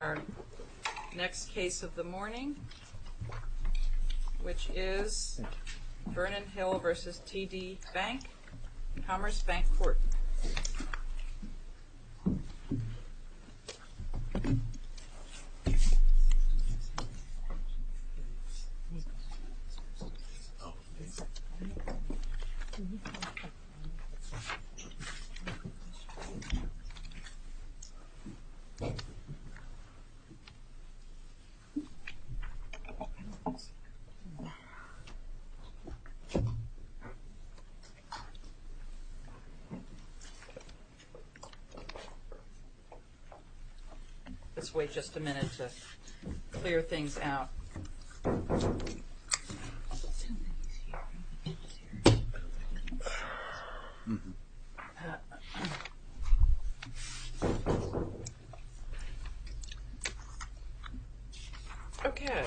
Our next case of the morning, which is Vernon Hill v. TD Bank, Commerce Bank Court. Let's wait just a minute to clear things out. Okay.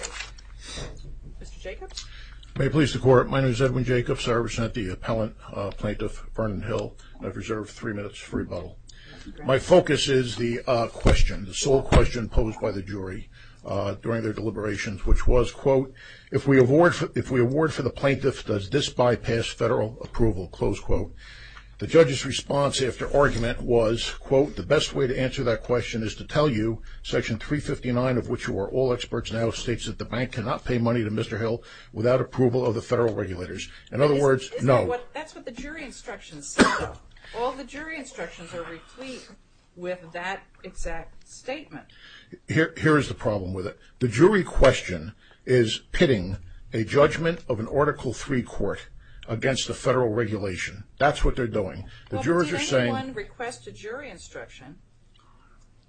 Mr. Jacobs? May it please the Court, my name is Edwin Jacobs. I represent the appellant plaintiff, Vernon Hill, and I've reserved three minutes for rebuttal. My focus is the If we award for the plaintiff, does this bypass federal approval? The judge's response after argument was, quote, the best way to answer that question is to tell you, section 359 of which you are all experts now, states that the bank cannot pay money to Mr. Hill without approval of the federal regulators. In other words, no. That's what the jury instructions say though. All the jury instructions are replete with that exact statement. Here is the problem with it. The jury question is pitting a judgment of an Article III court against the federal regulation. That's what they're doing. The jurors are saying Well, did anyone request a jury instruction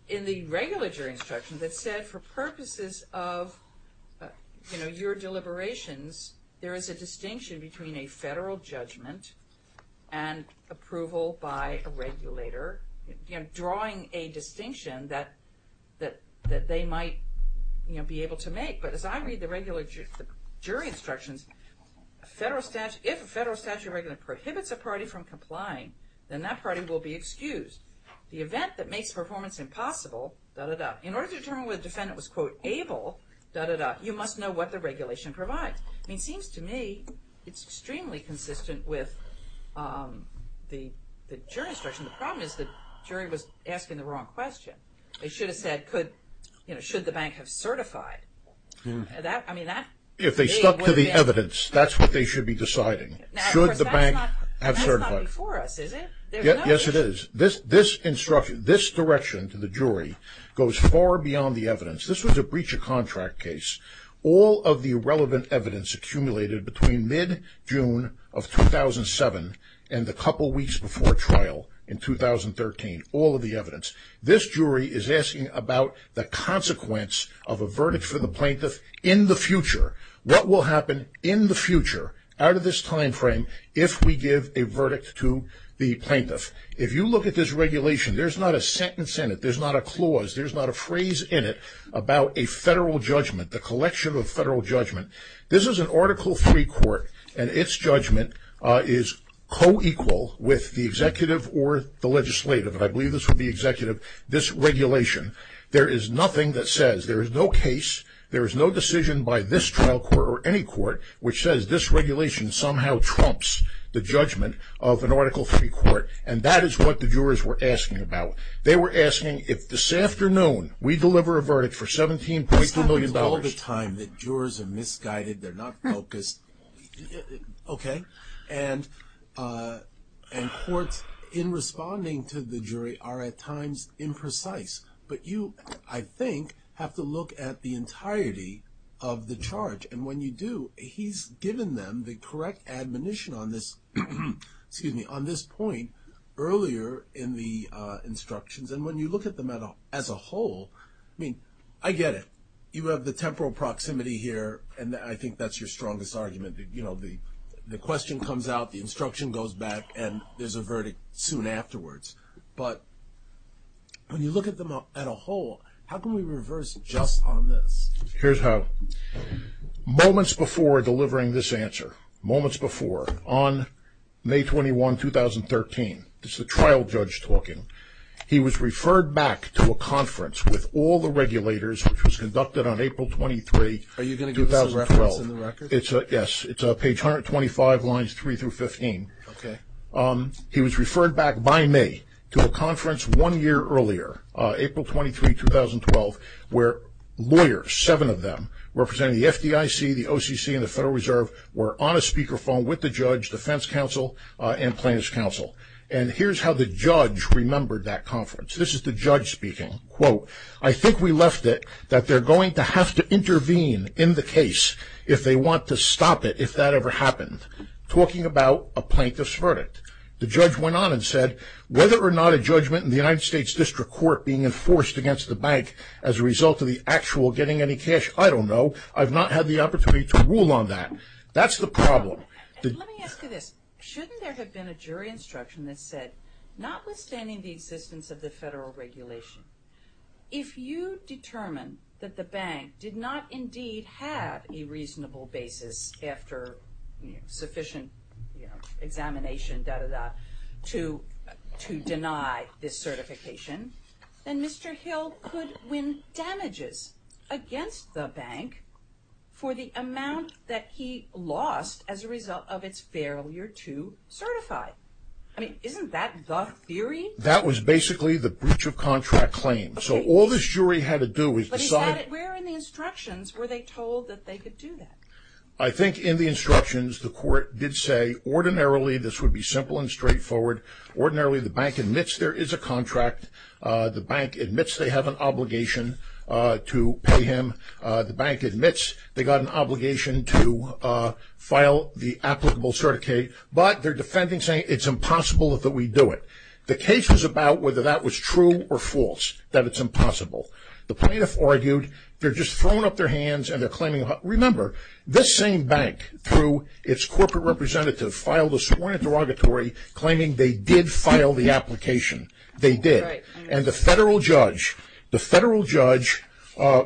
in the regular jury instruction that said for purposes of, you know, your deliberations, there is a distinction between a federal judgment and approval by a regulator, you know, drawing a distinction that they might, you know, be able to make. But as I read the regular jury instructions, if a federal statute of regulation prohibits a party from complying, then that party will be excused. The event that makes performance impossible, da-da-da, in order to determine whether the defendant was, quote, able, da-da-da, you must know what the regulation provides. I mean, it seems to me it's extremely consistent with the jury instruction. The problem is the jury was asking the wrong question. They should have said, could, you know, should the bank have certified? That, I mean, that If they stuck to the evidence, that's what they should be deciding. Should the bank have certified? Now, of course, that's not before us, is it? Yes, it is. This instruction, this direction to the jury goes far beyond the evidence. This was a breach of contract case. All of the irrelevant evidence accumulated between mid-June of 2007 and the couple weeks before trial in 2013, all of the evidence. This jury is asking about the consequence of a verdict for the plaintiff in the future. What will happen in the future, out of this time frame, if we give a verdict to the plaintiff? If you look at this regulation, there's not a sentence in it, there's not a clause, there's about a federal judgment, the collection of federal judgment. This is an Article III court and its judgment is co-equal with the executive or the legislative, and I believe this would be executive, this regulation. There is nothing that says, there is no case, there is no decision by this trial court or any court which says this regulation somehow trumps the judgment of an Article III court, and that is what the jurors were asking about. They were asking if this afternoon, we deliver a verdict for $17.2 million... This happens all the time, that jurors are misguided, they're not focused, okay? And courts, in responding to the jury, are at times imprecise, but you, I think, have to look at the entirety of the charge, and when you do, he's given them the correct admonition on this point earlier in the instructions, and when you look at them as a whole, I mean, I get it, you have the temporal proximity here, and I think that's your strongest argument, you know, the question comes out, the instruction goes back, and there's a verdict soon afterwards, but when you look at them at a whole, how can we reverse just on this? Here's how. Moments before delivering this answer, moments before, on May 21, 2013, this is a trial judge talking, he was referred back to a conference with all the regulators, which was conducted on April 23, 2012. Are you going to give us a reference in the record? Yes, it's page 125, lines 3 through 15. Okay. He was referred back by me to a conference one year earlier, April 23, 2012, where lawyers, seven of them, representing the FDIC, the OCC, and the Federal Reserve, were on a speakerphone with the judge, defense counsel, and plaintiff's counsel, and here's how the judge remembered that conference. This is the judge speaking. Quote, I think we left it that they're going to have to intervene in the case if they want to stop it if that ever happened. Talking about a plaintiff's verdict. The judge went on and said, whether or not a judgment in the United States District Court being enforced against the bank as a result of the actual getting any cash, I don't know. I've not had the opportunity to rule on that. That's the problem. Let me ask you this. Shouldn't there have been a jury instruction that said, notwithstanding the existence of the federal regulation, if you determine that the bank did not indeed have a reasonable basis after sufficient examination, dah, dah, dah, to deny this certification, then Mr. Hill could win damages against the bank for the amount that he lost as a result of its failure to certify. I mean, isn't that the theory? That was basically the breach of contract claim. So all this jury had to do was decide. Where in the instructions were they told that they could do that? I think in the instructions the court did say ordinarily this would be simple and straightforward. Ordinarily the bank admits there is a contract. The bank admits they have an obligation to pay him. The bank admits they got an obligation to file the applicable certificate. But they're defending saying it's impossible that we do it. The case was about whether that was true or false, that it's impossible. The plaintiff argued they're just throwing up their hands and they're claiming, remember, this same bank, through its corporate representative, filed a sworn interrogatory claiming they did file the application. They did. And the federal judge, the federal judge,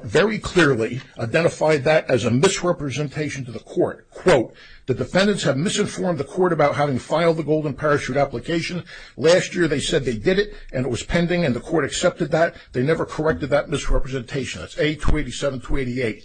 very clearly identified that as a misrepresentation to the court. Quote, the defendants have misinformed the court about having filed the golden parachute application. Last year they said they did it and it was pending and the court accepted that. They never corrected that misrepresentation. That's A-287-288.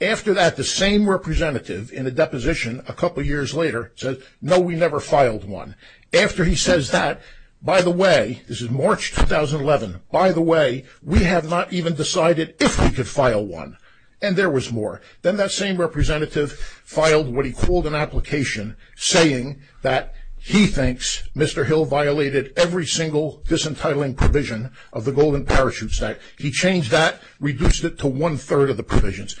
After that, the same representative, in a deposition a couple years later, said, no, we never filed one. After he says that, by the way, this is March 2011, by the way, we have not even decided if we could file one. And there was more. Then that same representative filed what he called an application saying that he thinks Mr. Hill violated every single disentitling provision of the golden parachute statute. He changed that, reduced it to one-third of the provisions.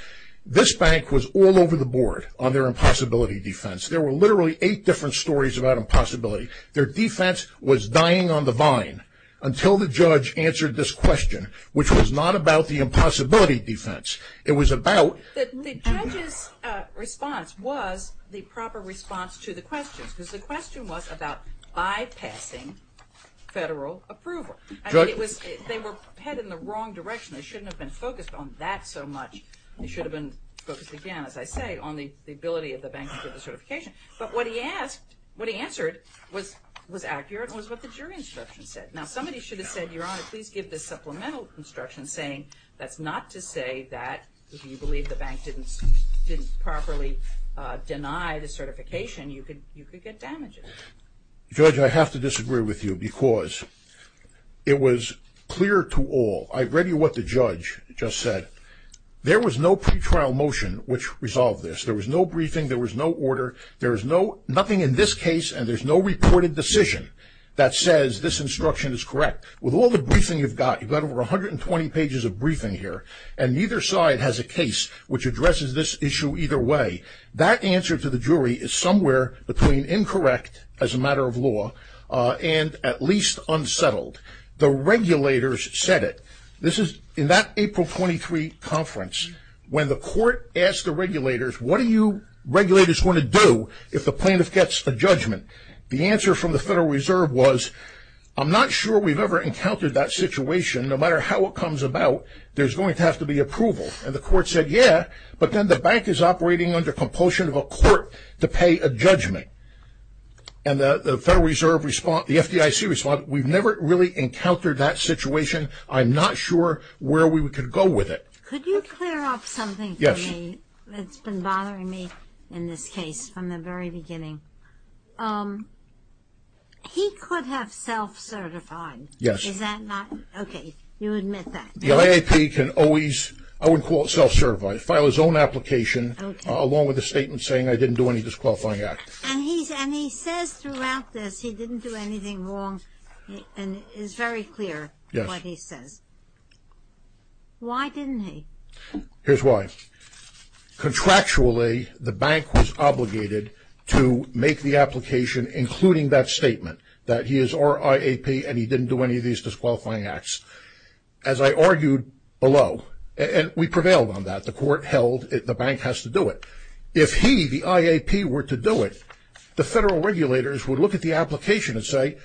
This bank was all over the board on their impossibility defense. There were literally eight different stories about impossibility. Their defense was dying on the vine until the judge answered this question, which was not about the impossibility defense. It was about... The judge's response was the proper response to the questions because the question was about bypassing federal approval. They were headed in the wrong direction. They shouldn't have been focused on that so much. They should have been focused, again, as I say, on the ability of the bank to get the certification. But what he asked, what he answered was accurate and was what the jury instruction said. Now, somebody should have said, Your Honor, please give this supplemental instruction saying that's not to say that if you believe the bank didn't properly deny the certification, you could get damages. Judge, I have to disagree with you because it was clear to all. I read you what the judge just said. There was no pretrial motion which resolved this. There was no briefing. There was no order. There is nothing in this case and there's no reported decision that says this instruction is correct. With all the briefing you've got, you've got over 120 pages of briefing here, and neither side has a case which addresses this issue either way. That answer to the jury is somewhere between incorrect as a matter of law and at least unsettled. The regulators said it. This is in that April 23 conference when the court asked the regulators, What are you regulators going to do if the plaintiff gets a judgment? The answer from the Federal Reserve was, I'm not sure we've ever encountered that situation. No matter how it comes about, there's going to have to be approval. And the court said, Yeah, but then the bank is operating under compulsion of a court to pay a judgment. And the Federal Reserve response, the FDIC response, we've never really encountered that situation. I'm not sure where we could go with it. Could you clear up something for me? Yes. It's been bothering me in this case from the very beginning. He could have self-certified. Yes. Is that not? Okay. You admit that. The IAP can always, I would call it self-certified, file his own application along with a statement saying, I didn't do any disqualifying acts. And he says throughout this, he didn't do anything wrong and is very clear what he says. Yes. Why didn't he? Here's why. Contractually, the bank was obligated to make the application including that statement that he is RIAP and he didn't do any of these disqualifying acts. As I argued below, and we prevailed on that, the court held the bank has to do it. If he, the IAP, were to do it, the Federal regulators would look at the application and say,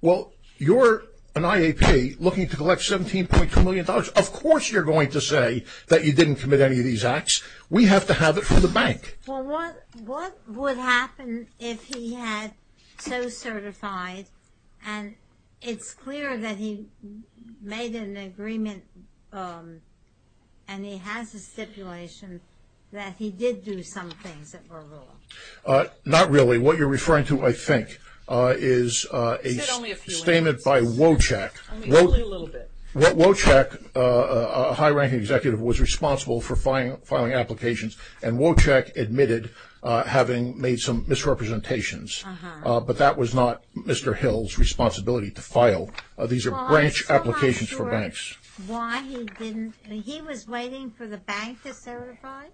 well, you're an IAP looking to collect $17.2 million. Of course you're going to say that you didn't commit any of these acts. We have to have it from the bank. Well, what would happen if he had self-certified and it's clear that he made an agreement and he has a stipulation that he did do some things that were wrong? Not really. What you're referring to, I think, is a statement by Wojcik. Only a little bit. Wojcik, a high-ranking executive, was responsible for filing applications and Wojcik admitted having made some misrepresentations. Uh-huh. But that was not Mr. Hill's responsibility to file. These are branch applications for banks. Well, I'm still not sure why he didn't. He was waiting for the bank to certify?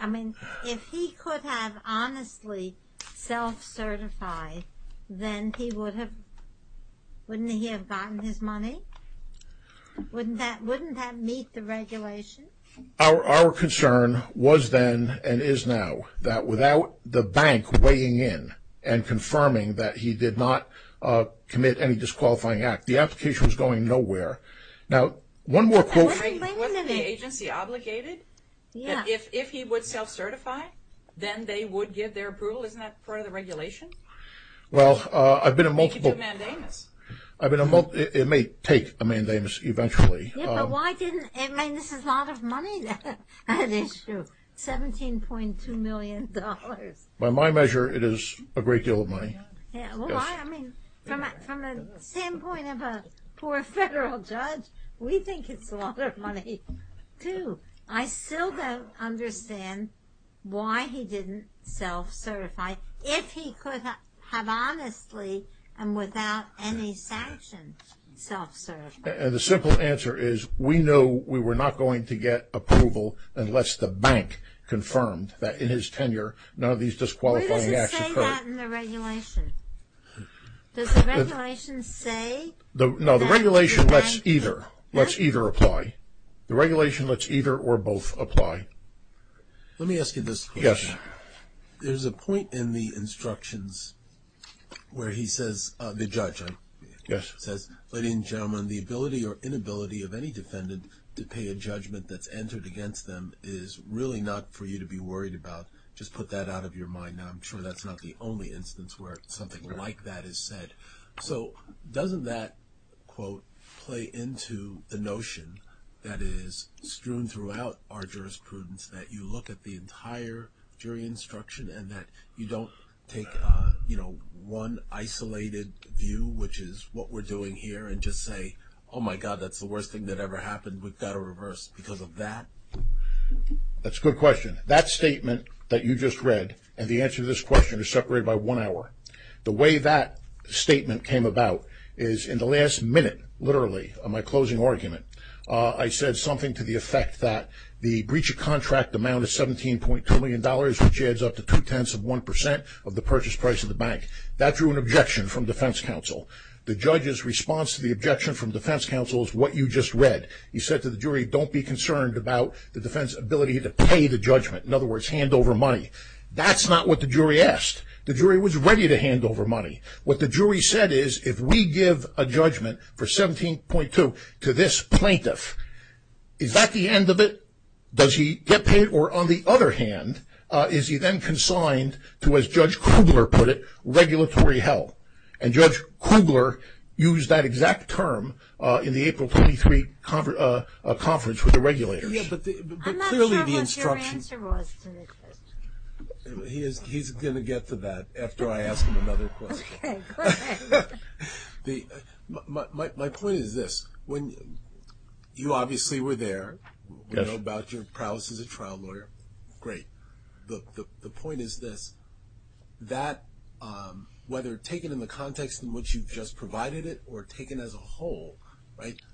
I mean, if he could have honestly self-certified, then wouldn't he have gotten his money? Wouldn't that meet the regulation? Our concern was then and is now that without the bank weighing in and confirming that he did not commit any disqualifying act, the application was going nowhere. Now, one more quote. Wasn't the agency obligated that if he would self-certify, then they would give their approval? Isn't that part of the regulation? Well, I've been in multiple... He could do a mandamus. It may take a mandamus eventually. Yeah, but why didn't... I mean, this is a lot of money, that issue. $17.2 million. By my measure, it is a great deal of money. Yeah, well, I mean, from the standpoint of a poor federal judge, we think it's a lot of money, too. I still don't understand why he didn't self-certify if he could have honestly and without any sanctions self-certified. And the simple answer is we knew we were not going to get approval unless the bank confirmed that in his tenure none of these disqualifying acts occurred. Why does it say that in the regulation? Does the regulation say... No, the regulation lets either. Let's either apply. The regulation lets either or both apply. Let me ask you this question. There's a point in the instructions where he says, the judge says, Ladies and gentlemen, the ability or inability of any defendant to pay a judgment that's entered against them is really not for you to be worried about. Just put that out of your mind. Now, I'm sure that's not the only instance where something like that is said. So doesn't that, quote, play into the notion that is strewn throughout our jurisprudence that you look at the entire jury instruction and that you don't take, you know, one isolated view, which is what we're doing here, and just say, oh, my God, that's the worst thing that ever happened. We've got to reverse because of that? That's a good question. That statement that you just read and the answer to this question is separated by one hour. The way that statement came about is in the last minute, literally, of my closing argument, I said something to the effect that the breach of contract amount is $17.2 million, which adds up to 2 tenths of 1 percent of the purchase price of the bank. That drew an objection from defense counsel. The judge's response to the objection from defense counsel is what you just read. He said to the jury, don't be concerned about the defense's ability to pay the judgment, in other words, hand over money. That's not what the jury asked. The jury was ready to hand over money. What the jury said is, if we give a judgment for 17.2 to this plaintiff, is that the end of it? Does he get paid? Or, on the other hand, is he then consigned to, as Judge Krugler put it, regulatory hell? And Judge Krugler used that exact term in the April 23 conference with the regulators. I'm not sure what your answer was to the question. He's going to get to that after I ask him another question. Okay, go ahead. My point is this. You obviously were there. Yes. You know about your prowess as a trial lawyer. Great. The point is this. Whether taken in the context in which you just provided it or taken as a whole,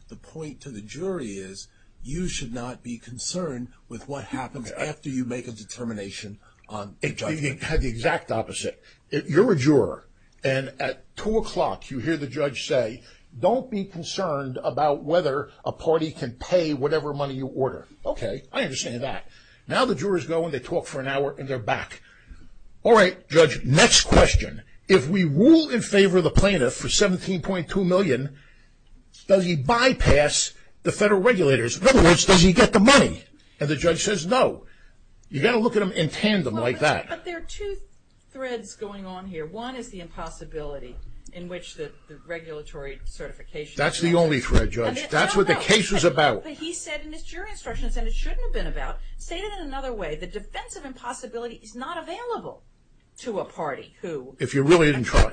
the point to the jury is you should not be concerned with what happens after you make a determination on the judgment. The exact opposite. You're a juror, and at 2 o'clock you hear the judge say, don't be concerned about whether a party can pay whatever money you order. Okay, I understand that. Now the jurors go and they talk for an hour and they're back. Alright, Judge, next question. If we rule in favor of the plaintiff for $17.2 million, does he bypass the federal regulators? In other words, does he get the money? And the judge says no. You've got to look at them in tandem like that. But there are two threads going on here. One is the impossibility in which the regulatory certification... That's the only thread, Judge. That's what the case is about. He said in his jury instructions, and it shouldn't have been about, stated in another way, the defense of impossibility is not available to a party who... If you really didn't try.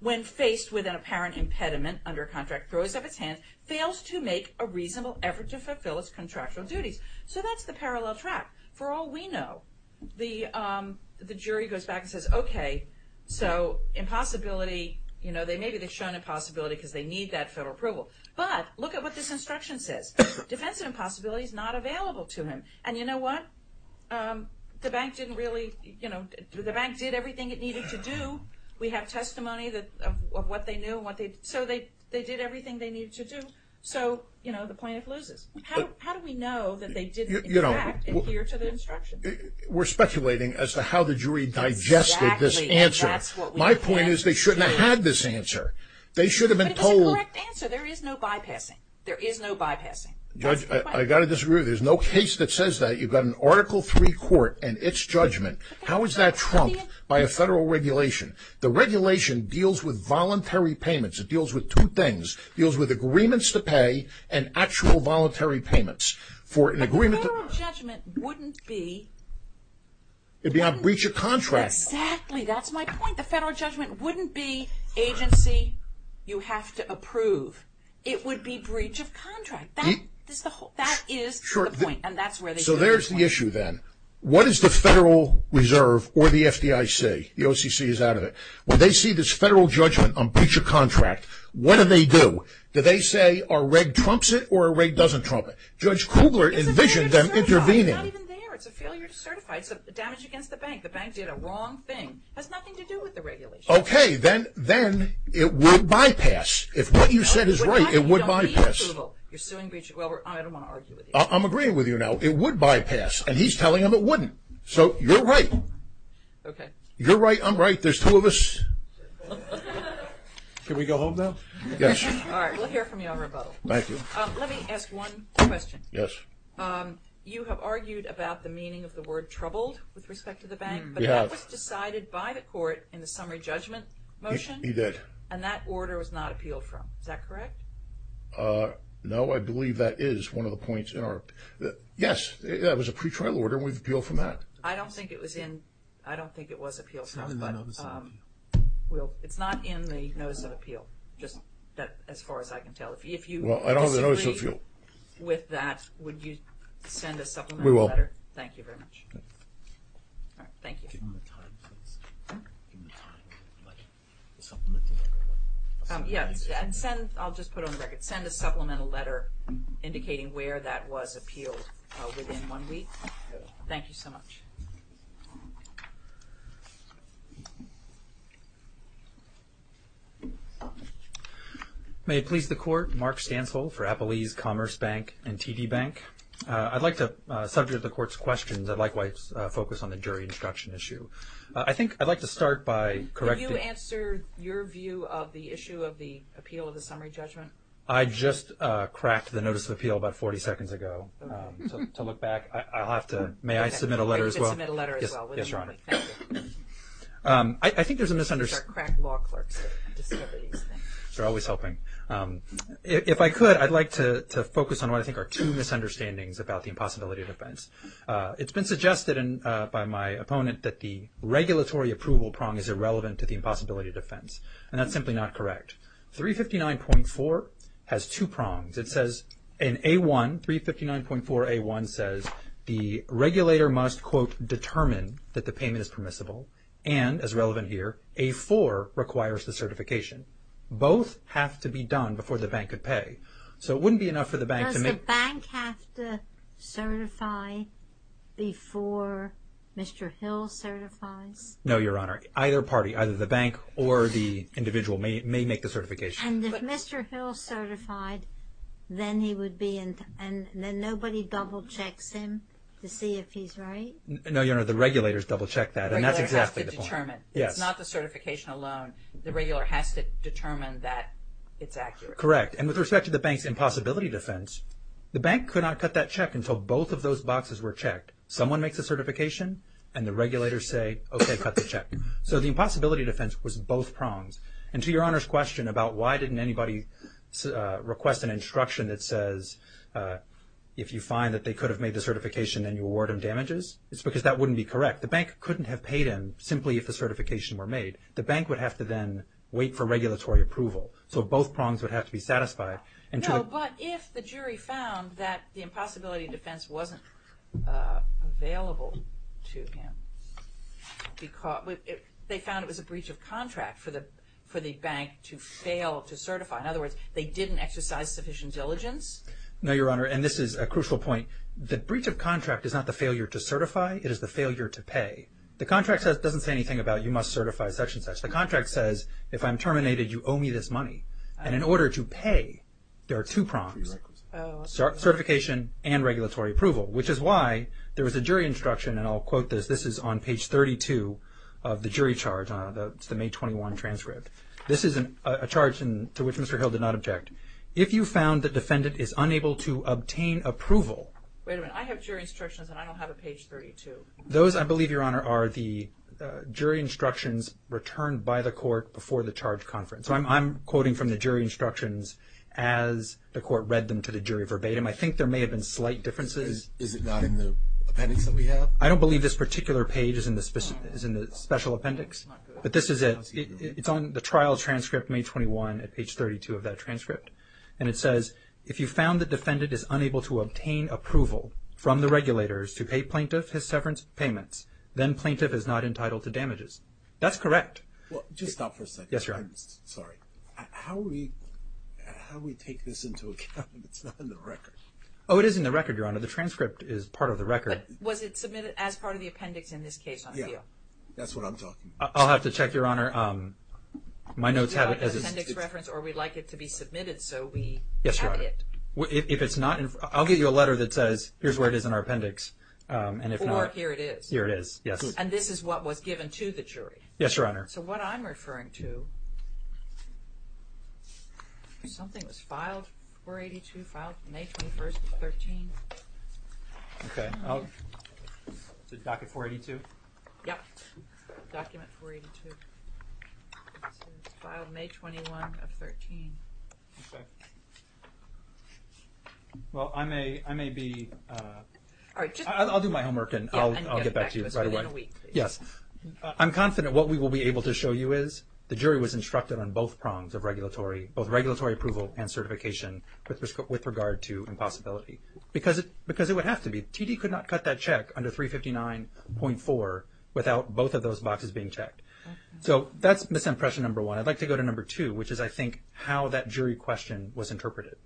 When faced with an apparent impediment under contract throws up its hands, fails to make a reasonable effort to fulfill its contractual duties. So that's the parallel track. For all we know, the jury goes back and says, okay, so impossibility, maybe they've shown impossibility because they need that federal approval. But look at what this instruction says. Defense of impossibility is not available to him. And you know what? The bank didn't really... The bank did everything it needed to do. We have testimony of what they knew. So they did everything they needed to do. So the plaintiff loses. How do we know that they didn't in fact adhere to the instruction? We're speculating as to how the jury digested this answer. My point is they shouldn't have had this answer. They should have been told... But it's a correct answer. There is no bypassing. There is no bypassing. Judge, I gotta disagree with you. There's no case that says that. You've got an Article III court and its judgment. How is that trumped by a federal regulation? The regulation deals with voluntary payments. It deals with two things. It deals with agreements to pay and actual voluntary payments for an agreement... But the federal judgment wouldn't be... It'd be on breach of contract. Exactly. That's my point. The federal judgment wouldn't be agency, you have to approve. It would be breach of contract. That is the point. So there's the issue then. What does the Federal Reserve or the FDIC, the OCC is out of it, when they see this federal judgment on breach of contract, what do they do? Do they say our reg trumps it or our reg doesn't trump it? Judge Kugler envisioned them intervening. It's not even there. It's a failure to certify. It's a damage against the bank. The bank did a wrong thing. It has nothing to do with the regulation. Then it would bypass. If what you said is right, it would bypass. I don't want to argue with you. I'm agreeing with you now. It would bypass and he's telling them it wouldn't. So you're right. You're right. I'm right. There's two of us. Can we go home now? We'll hear from you on rebuttal. Let me ask one question. Yes. You have argued about the meaning of the word troubled with respect to the bank. We have. But that was decided by the court in the summary judgment motion. He did. And that order was not appealed from. Is that correct? No, I believe that is one of the points in our... Yes, that was a pre-trial order and we've appealed from that. I don't think it was in... I don't think it was appealed from. It's not in my notice of appeal. It's not in the notice of appeal. As far as I can tell. If you disagree with that, would you send a supplemental letter? We will. Thank you very much. I'll just put it on the record. Send a supplemental letter indicating where that was appealed within one week. Thank you so much. Thank you. May it please the court Mark Stansel for Appelese Commerce Bank and TD Bank. I'd like to subject the court's questions and likewise focus on the jury instruction issue. I think I'd like to start by correcting... Did you answer your view of the issue of the appeal of the summary judgment? I just cracked the notice of appeal about 40 seconds ago to look back. May I submit a letter as well? Yes, Your Honor. I think there's a misunderstanding. They're always helping. If I could, I'd like to focus on what I think are two misunderstandings about the impossibility of defense. It's been suggested by my opponent that the regulatory approval prong is irrelevant to the impossibility of defense. And that's simply not correct. 359.4 has two prongs. It says in A1 359.4 A1 says the regulator must determine that the payment is permissible and, as relevant here, A4 requires the certification. Both have to be done before the bank could pay. So it wouldn't be enough for the bank to make... Does the bank have to certify before Mr. Hill certifies? No, Your Honor. Either party, either the bank or the individual may make the certification. And if Mr. Hill certified then he would be and then nobody double-checks him to see if he's right? No, Your Honor. The regulators double-check that. And that's exactly the point. It's not the certification alone. The regular has to determine that it's accurate. Correct. And with respect to the bank's impossibility of defense, the bank could not cut that check until both of those boxes were checked. Someone makes a certification and the regulators say, okay, cut the check. So the impossibility of defense was both prongs. And to Your Honor's question about why didn't anybody request an instruction that says if you find that they could have made the certification then you award them damages? It's because that wouldn't be correct. The bank couldn't have paid him simply if the certification were made. The bank would have to then wait for regulatory approval. So both prongs would have to be satisfied. No, but if the jury found that the impossibility of defense wasn't available to him they found it was a breach of contract for the bank to fail to certify. In other words, they didn't exercise sufficient diligence? No, Your Honor, and this is a crucial point. The breach of contract is not the failure to certify. It is the failure to pay. The contract doesn't say anything about you must certify such and such. The contract says if I'm terminated you owe me this money. And in order to pay, there are two prongs. Certification and regulatory approval, which is why there was a jury instruction, and I'll quote this. This is on page 32 of the jury charge. It's the May 21 transcript. This is a charge to which Mr. Hill did not object. If you found the defendant is unable to obtain approval Wait a minute. I have jury instructions and I don't have a page 32. Those, I believe, Your Honor, are the jury instructions returned by the court before the charge conference. So I'm quoting from the jury instructions as the court read them to the jury verbatim. I think there may have been slight differences. Is it not in the appendix that we have? I don't believe this particular page is in the special appendix. But this is it. It's on the trial transcript May 21 at page 32 of that transcript. And it says if you found the defendant is unable to obtain approval from the regulators to pay plaintiff his severance payments then plaintiff is not entitled to damages. That's correct. Just stop for a second. Sorry. How do we Oh, it is in the record, Your Honor. The transcript is part of the record. But was it submitted as part of the appendix in this case? That's what I'm talking about. I'll have to check, Your Honor. My notes have it as an appendix reference or we'd like it to be submitted so we have it. If it's not, I'll give you a letter that says here's where it is in our appendix. And if not, here it is. And this is what was given to the jury. Yes, Your Honor. So what I'm referring to something was filed 482, filed May 21 13 Okay. Docket 482? Yeah. Document 482. It's filed May 21 of 13. Okay. Well, I may be I'll do my homework and I'll get back to you right away. Yes. I'm confident what we will be able to show you is the jury was instructed on both prongs of regulatory both regulatory approval and certification with regard to impossibility. Because it would have to be. TD could not cut that check under 359.4 without both of those boxes being checked. So that's misimpression number one. I'd like to go to number two, which is, I think, how that jury question was interpreted.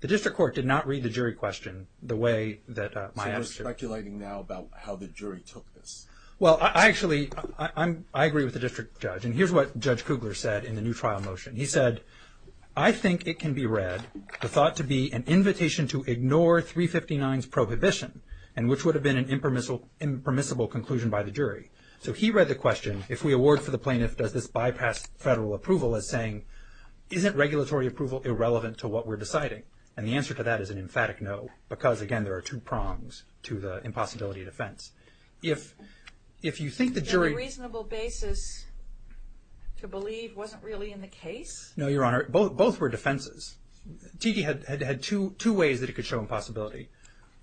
The district court did not read the jury question the way that my... So you're speculating now about how the jury took this? Well, I actually I agree with the district judge and here's what Judge Kugler said in the new trial motion. He said, I think it can be read, the thought to be an invitation to ignore 359's prohibition, and which would have been an impermissible conclusion by the jury. So he read the question, if we award for the plaintiff, does this bypass federal approval as saying, isn't regulatory approval irrelevant to what we're deciding? And the answer to that is an emphatic no. Because, again, there are two prongs to the impossibility defense. If you think the jury... The reasonable basis to believe wasn't really in the case? No, Your Honor. Both were defenses. Tiki had two ways that it could show impossibility.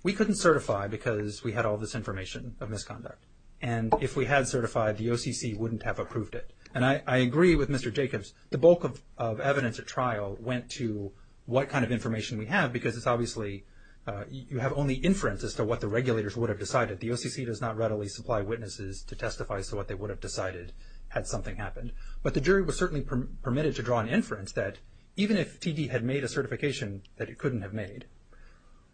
We couldn't certify because we had all this information of misconduct. And if we had certified, the OCC wouldn't have approved it. And I agree with Mr. Jacobs. The bulk of evidence at trial went to what kind of information we have, because it's obviously, you have only inference as to what the regulators would have decided. The OCC does not readily supply witnesses to testify as to what they would have decided had something happened. But the jury was certainly permitted to draw an inference that even if T.D. had made a certification that it couldn't have made,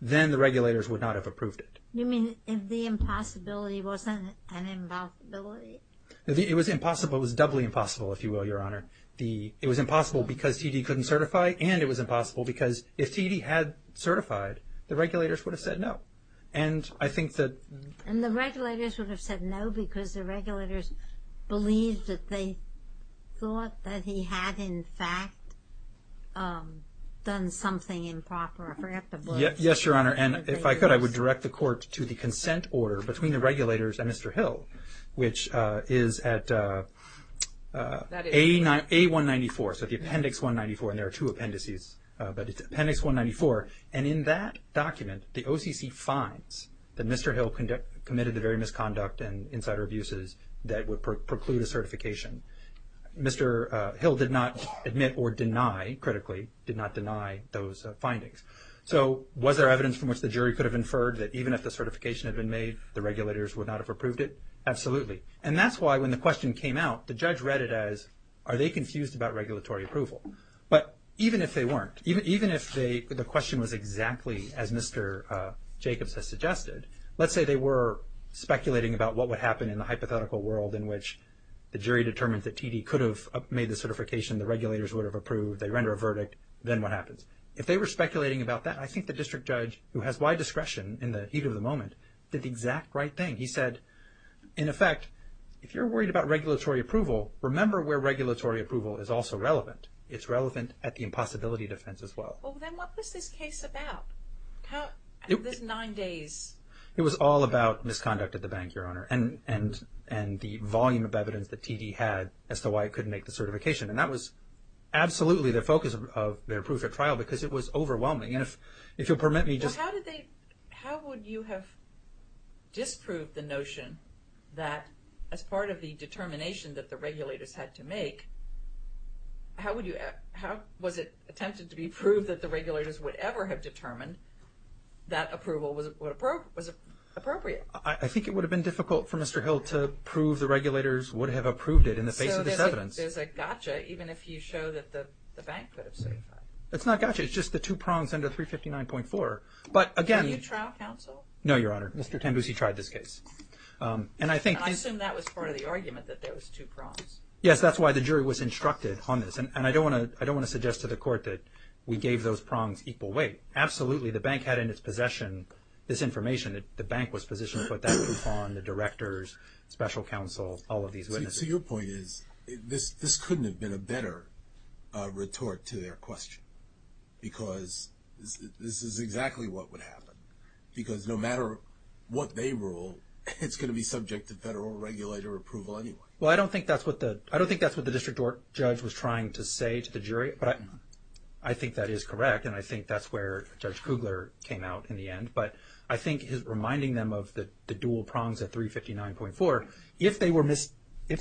then the regulators would not have approved it. You mean if the impossibility wasn't an impossibility? It was impossible. It was doubly impossible, if you will, Your Honor. It was impossible because T.D. couldn't certify, and it was impossible because if T.D. had certified, the regulators would have said no. And I think that... And the regulators would have said no because the regulators believed that they thought that he had in fact done something improper. I forget the words. Yes, Your Honor, and if I could, I would direct the court to the consent order between the regulators and Mr. Hill, which is at A194, so the Appendix 194, and there are two appendices, but it's Appendix 194, and in that document, the OCC finds that Mr. Hill committed the very misconduct and insider abuses that would preclude a certification. Mr. Hill did not admit or deny critically, did not deny those findings. So was there evidence from which the jury could have inferred that even if the certification had been made, the regulators would not have approved it? Absolutely. And that's why when the question came out, the judge read it as are they confused about regulatory approval? But even if they weren't, even if the question was exactly as Mr. Jacobs has suggested, let's say they were speculating about what would happen in the hypothetical world in which the jury determined that TD could have made the certification, the regulators would have approved, they render a verdict, then what happens? If they were speculating about that, I think the district judge, who has wide discretion in the heat of the moment, did the exact right thing. He said in effect, if you're worried about regulatory approval, remember where regulatory approval is also relevant. It's relevant at the impossibility defense as well. Well then what was this case about? This nine days? It was all about misconduct at the bank, Your Honor. And the volume of evidence that TD had as to why it couldn't make the certification. And that was absolutely the focus of their proof at trial because it was overwhelming. And if you'll permit me, How would you have disproved the notion that as part of the determination that the regulators had to make, how was it attempted to be proved that the regulators would ever have determined that approval was appropriate? I think it would have been difficult for Mr. Hill to prove the regulators would have approved it in the face of this evidence. So there's a gotcha even if you show that the bank could have certified. It's not gotcha. It's just the two prongs under 359.4. But again Do you have any trial counsel? No, Your Honor. Mr. Tambusi tried this case. And I assume that was part of the argument that those two prongs. Yes, that's why the jury was instructed on this. And I don't want to suggest to the court that we gave those prongs equal weight. Absolutely. The bank had in its possession this information. The bank was positioned to put that proof on the directors, special counsel, all of these witnesses. So your point is this couldn't have been a better retort to their question. this is exactly what would happen. Because no matter what they rule, it's going to be subject to federal regulator approval anyway. I don't think that's what the district judge was trying to say to the jury. But I think that is correct. And I think that's where Judge Kugler came out in the end. But I think he's reminding them of the dual prongs at 359.4. If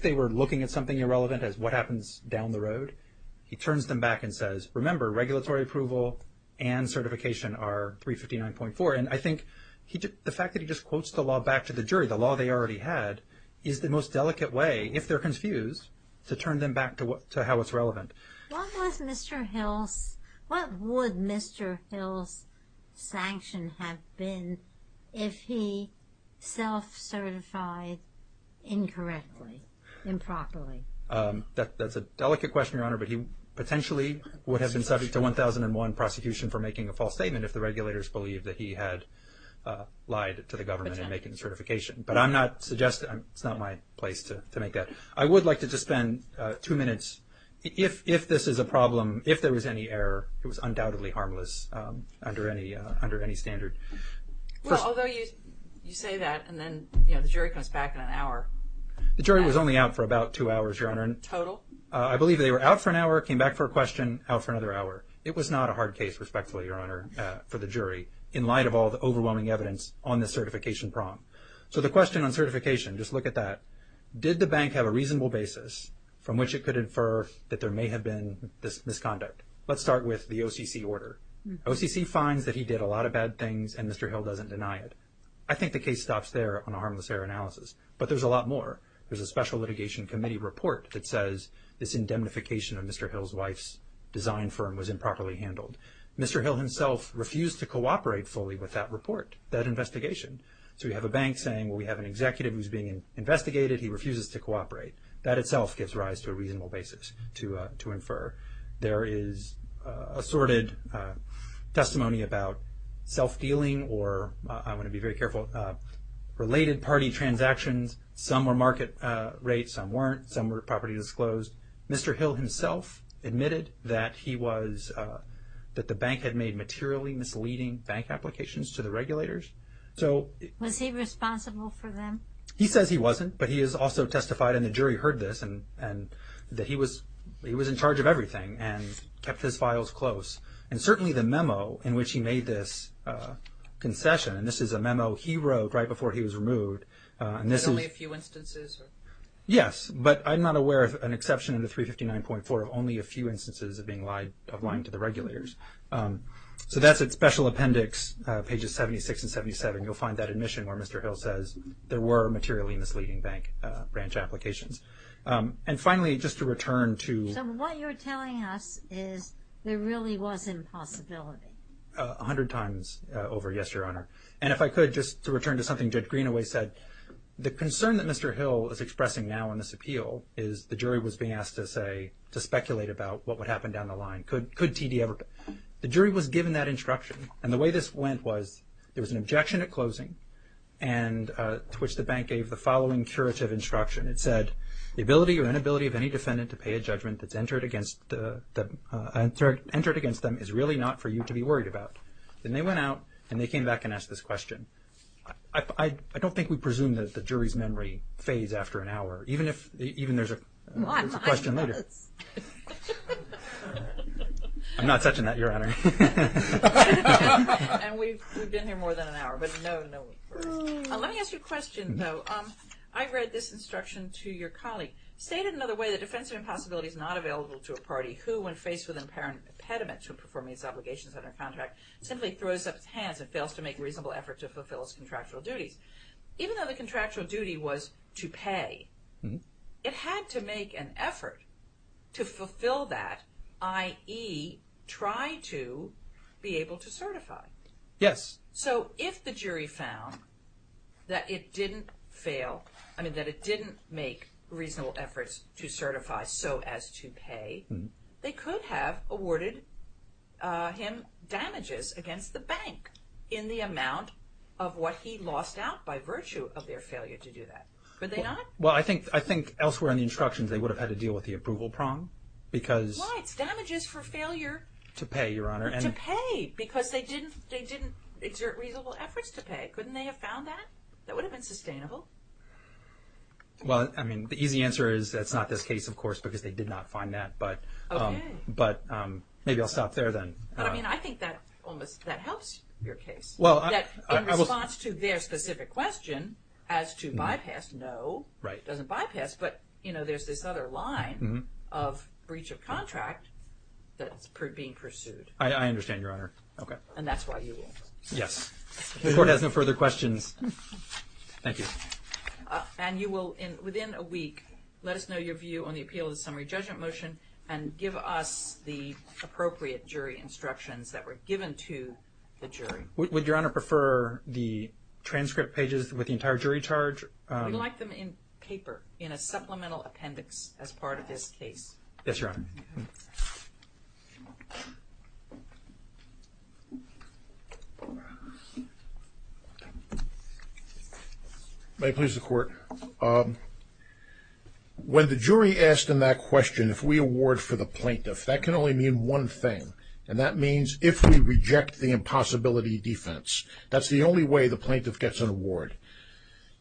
they were looking at something irrelevant as what happens down the road, he turns them back and says, remember regulatory approval and certification are 359.4. And I think the fact that he just quotes the law back to the jury, the law they already had, is the most delicate way, if they're confused, to turn them back to how it's relevant. What would Mr. Hill's sanction have been if he self-certified incorrectly? Improperly? That's a delicate question, Your Honor. But he potentially would have been subject to 1001 prosecution for making a false statement if the regulators believed that he had lied to the government in making certification. But I'm not suggesting it's not my place to make that. I would like to just spend two minutes if this is a problem, if there was any error, it was undoubtedly harmless under any standard. Well, although you say that and then the jury comes back in an hour. The jury was only out for about two hours, Your Honor. Total? I believe they were out for an hour, came back for a question, out for another hour. It was not a hard case, respectfully, Your Honor, for the jury in light of all the overwhelming evidence on the certification prompt. So the question on certification, just look at that. Did the bank have a reasonable basis from which it could infer that there may have been misconduct? Let's start with the OCC order. OCC finds that he did a lot of bad things and Mr. Hill doesn't deny it. I think the case stops there on a harmless error analysis. But there's a lot more. There's a special litigation committee report that says this indemnification of Mr. Hill's wife's design firm was improperly handled. Mr. Hill himself refused to cooperate fully with that report, that investigation. So we have a bank saying, well, we have an executive who's being investigated, he refuses to cooperate. That itself gives rise to a reasonable basis to infer. There is assorted testimony about self-dealing or, I want to be very careful, related party transactions. Some were market rates, some weren't. Some were property disclosed. Mr. Hill himself admitted that he was that the bank had made materially misleading bank applications to the regulators. Was he responsible for them? He says he wasn't, but he has also testified, and the jury heard this, and that he was in charge of everything and kept his files close. And certainly the memo in which he made this concession, and this is a memo he wrote right before he was removed. There's only a few instances? Yes, but I'm not aware of an exception in the 359.4 of only a few instances of lying to the regulators. So that's its special appendix, pages 76 and 77. You'll find that admission where Mr. Hill says there were materially misleading bank branch applications. And finally, just to return to So what you're telling us is there really was impossibility? A hundred times over, yes, Your Honor. And if I could, just to return to something Judge Greenaway said, the concern that Mr. Hill is expressing now in this appeal is the jury was being asked to speculate about what would happen down the line. The jury was given that instruction and the way this went was there was an objection at closing to which the bank gave the following curative instruction. It said, the ability or inability of any defendant to pay a judgment that's entered against them is really not for you to be worried about. Then they went out and they came back and asked this question. I don't think we presume that the jury's memory fades after an hour even if there's a question later. I'm not touching that, Your Honor. And we've been here more than an hour but no, no. Let me ask you a question, though. I read this instruction to your colleague stated another way, the defense of impossibility is not available to a party who, when faced with an impediment to performing its obligations under contract, simply throws up its hands and fails to make a reasonable effort to fulfill its contractual duty was to pay. It had to make an effort to fulfill that, i.e. try to be able to certify. Yes. So if the jury found that it didn't fail, I mean that it didn't make reasonable efforts to certify so as to pay, they could have awarded him damages against the bank in the amount of what he lost out by virtue of their failure to do that. Could they not? I think elsewhere in the instructions they would have had to deal with the approval prong because Why? It's damages for failure to pay, Your Honor. To pay because they didn't exert reasonable efforts to pay. Couldn't they have found that? That would have been sustainable. Well, I mean, the easy answer is that's not this case, of course, because they did not find that but maybe I'll stop there then. I think that helps your case. In response to their specific question as to bypass, no. It doesn't bypass but there's this other line of breach of contract that's being pursued. I understand, Your Honor. And that's why you will. Yes. The Court has no further questions. Thank you. And you will, within a week, let us know your view on the appeal of the summary judgment motion and give us the appropriate jury instructions that were given to the jury. Would Your Honor prefer the transcript pages with the entire jury charge? We'd like them in paper in a supplemental appendix as part of this case. Yes, Your Honor. May it please the Court. When the jury asked in that question if we award for the plaintiff, that can only mean one thing. And that means if we reject the impossibility defense. That's the only way the plaintiff gets an award.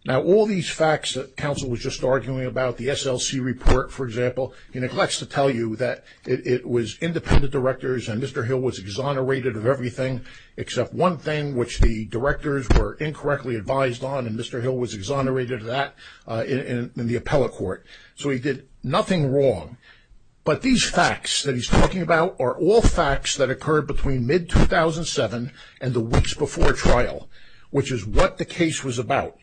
Now all these facts that counsel was just arguing about, the SLC report, for example, he neglects to tell you that it was independent directors and Mr. Hill was exonerated of everything except one thing, which the directors were incorrectly advised on and Mr. Hill was exonerated of that in the appellate court. So he did nothing wrong but these facts that he's talking about are all facts that occurred between mid-2007 and the weeks before trial which is what the case was about.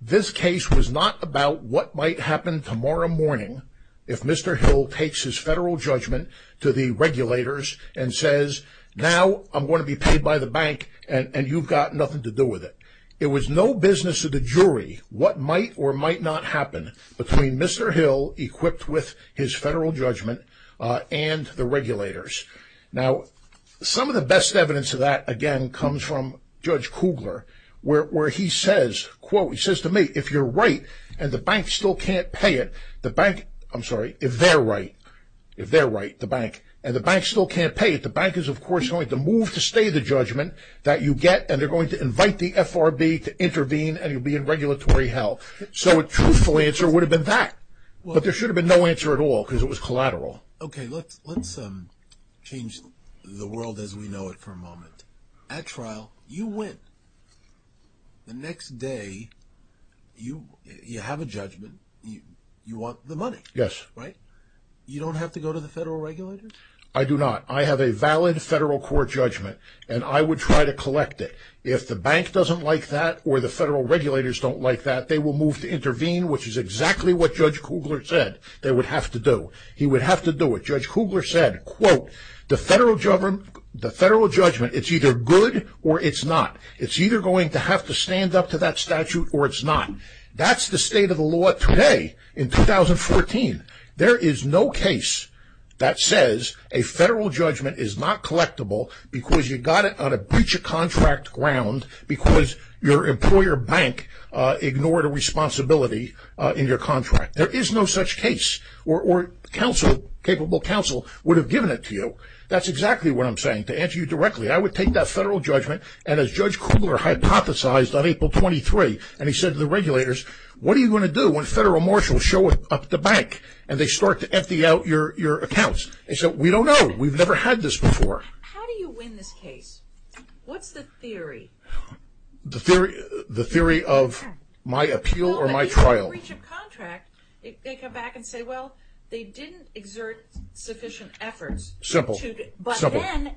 This case was not about what might happen tomorrow morning if Mr. Hill takes his federal judgment to the regulators and says, now I'm going to be paid by the bank and you've got nothing to do with it. It was no business of the jury what might or might not happen between Mr. Hill, equipped with his federal judgment and the regulators. Now, some of the best evidence of that, again, comes from Judge Kugler, where he says quote, he says to me, if you're right and the bank still can't pay it the bank, I'm sorry, if they're right if they're right, the bank and the bank still can't pay it, the bank is of course going to move to stay the judgment that you get and they're going to invite the FRB to intervene and you'll be in regulatory hell. So a truthful answer would have been that. But there should have been no answer at all because it was collateral. Let's change the world as we know it for a moment. At trial, you win. The next day you have a judgment, you want the money, right? You don't have to go to the federal regulators? I do not. I have a valid federal court judgment and I would try to collect it. If the bank doesn't like that or the federal regulators don't like that they will move to intervene, which is exactly what Judge Kugler said they would have to do. He would have to do it. Judge Kugler said, quote, the federal judgment, it's either good or it's not. It's either going to have to stand up to that statute or it's not. That's the state of the law today in 2014. There is no case that says a federal judgment is not collectible because you got it on a breach of contract because your employer bank ignored a responsibility in your contract. There is no such case or capable counsel would have given it to you. That's exactly what I'm saying. To answer you directly, I would take that federal judgment and as Judge Kugler hypothesized on April 23 and he said to the regulators, what are you going to do when federal marshals show up at the bank and they start to empty out your accounts? They said, we don't know. We've never had this before. How do you win this case? What's the theory? The theory of my appeal or my trial. They come back and say, well, they didn't exert sufficient efforts. Simple.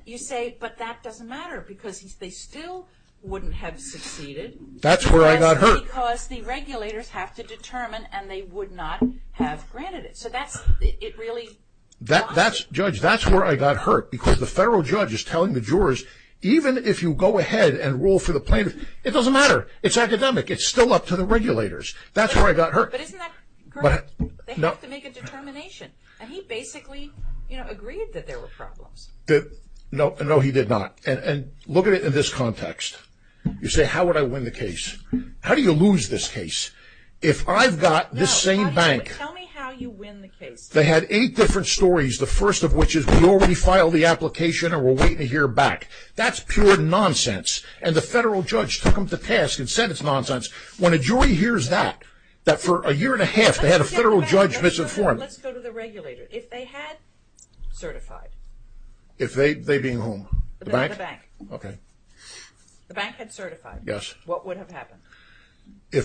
You say, but that doesn't matter because they still wouldn't have succeeded. That's where I got hurt. Because the regulators have to determine and they would not have granted it. Judge, that's where I got hurt because the federal judge is telling the jurors even if you go ahead and rule for the plaintiff, it doesn't matter. It's academic. It's still up to the regulators. That's where I got hurt. But isn't that great? They have to make a determination. And he basically agreed that there were problems. No, he did not. Look at it in this context. You say, how would I win the case? How do you lose this case? If I've got this same bank... Tell me how you win the case. They had eight different stories. The first of which is, we already filed the application and we're waiting to hear back. That's pure nonsense. And the federal judge took them to task and said it's nonsense. When a jury hears that, that for a year and a half they had a federal judge misinformed... Let's go to the regulator. If they had certified... If they being whom? The bank. The bank had certified. What would have happened?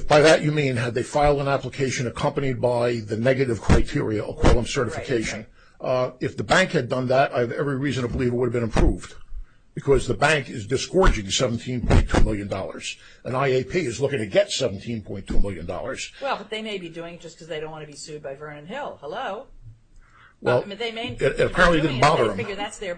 By that you mean, had they filed an application accompanied by the negative criteria of quillum certification. If the bank had done that, I have every reason to believe it would have been approved. Because the bank is disgorging 17.2 million dollars. And IAP is looking to get 17.2 million dollars. Well, but they may be doing it just because they don't want to be sued by Vernon Hill. Hello? Apparently it didn't bother them. That's their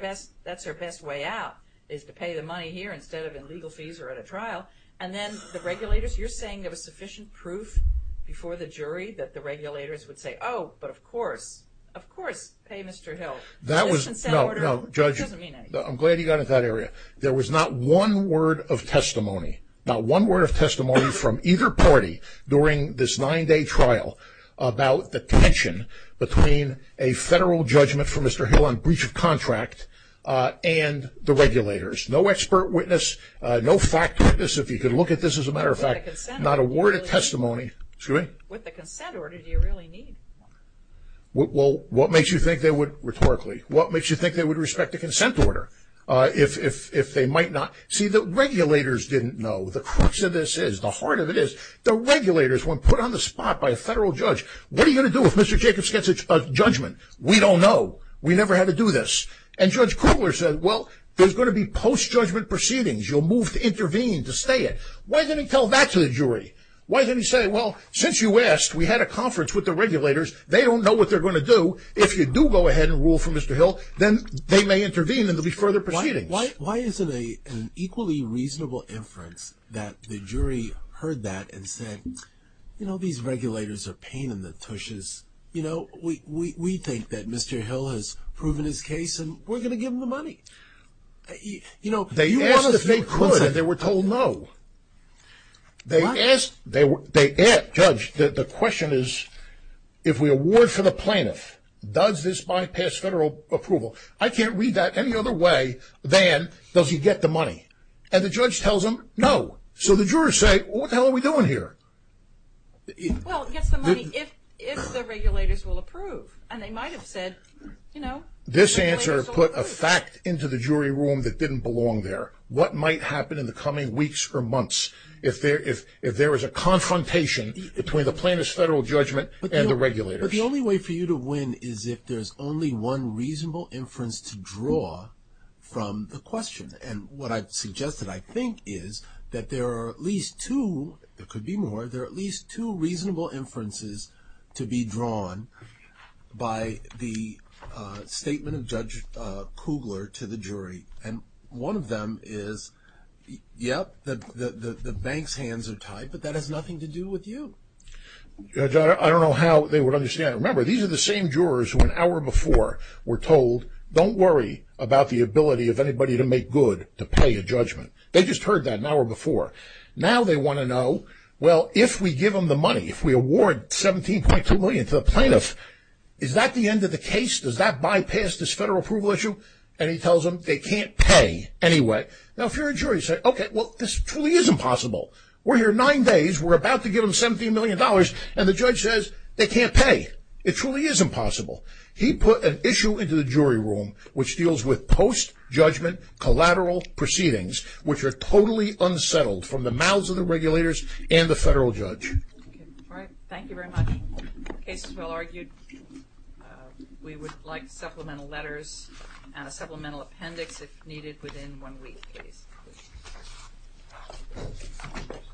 best way out. Is to pay the money here instead of in legal fees or at a trial. And then the regulators, you're saying there was sufficient proof before the jury that the regulators would say, oh, but of course of course pay Mr. Hill. That was... No, no. Judge, I'm glad you got into that area. There was not one word of testimony. Not one word of testimony from either party during this nine day trial about the tension between a federal judgment for Mr. Hill on breach of contract and the regulators. No expert witness. No fact witness. If you could look at this as a matter of fact, not a word of testimony. Excuse me? With the consent order, do you really need one? Well, what makes you think they would, rhetorically, what makes you think they would respect the consent order? If they might not. See, the regulators didn't know the crux of this is, the heart of it is the regulators, when put on the spot by a federal judge, what are you going to do if Mr. Jacobs gets a judgment? We don't know. We never had to do this. And Judge Krugler said, well, there's going to be post-judgment proceedings. You'll move to intervene to stay it. Why didn't he tell that to the jury? Why didn't he say, well, since you asked, we had a conference with the regulators, they don't know what they're going to do. If you do go ahead and rule for Mr. Hill, then they may intervene and there will be further proceedings. Why is it an equally reasonable inference that the jury heard that and said, you know, these regulators are pain in the tushes. You know, we think that Mr. Hill has proven his case and we're going to give him the money. You know, they asked if they could and they were told no. They asked, they asked, Judge, the question is, if we award for the plaintiff, does this bypass federal approval? I can't read that any other way than does he get the money? And the judge tells them no. So the jurors say, what the hell are we doing here? Well, he gets the money if the regulators will approve. And they might have said, you know, this answer put a fact into the jury room that didn't belong there. What might happen in the coming weeks or months if there is a confrontation between the plaintiff's federal judgment and the regulators? But the only way for you to win is if there's only one reasonable inference to draw from the question. And what I've suggested, I think, is that there are at least two, there could be more, there are at least two reasonable inferences to be drawn by the statement of Judge Kugler to the jury. And one of them is yep, the bank's hands are tied, but that has nothing to do with you. I don't know how they would understand. Remember, these are the same jurors who an hour before were told don't worry about the ability of anybody to make good to pay a judgment. They just heard that an hour before. Now they want to know, well, if we give them the money, if we award $17.2 million to the plaintiff, is that the end of the case? Does that bypass this federal approval issue? And he tells them they can't pay anyway. Now if you're a jury, you say, okay, well, this truly is impossible. We're here nine days, we're about to give them $17 million, and the judge says they can't pay. It truly is impossible. He put an issue into the jury room which deals with post- judgment collateral proceedings which are totally unsettled from the mouths of the regulators and the Thank you very much. The case is well argued. We would like supplemental letters and a supplemental appendix if needed within one week, please.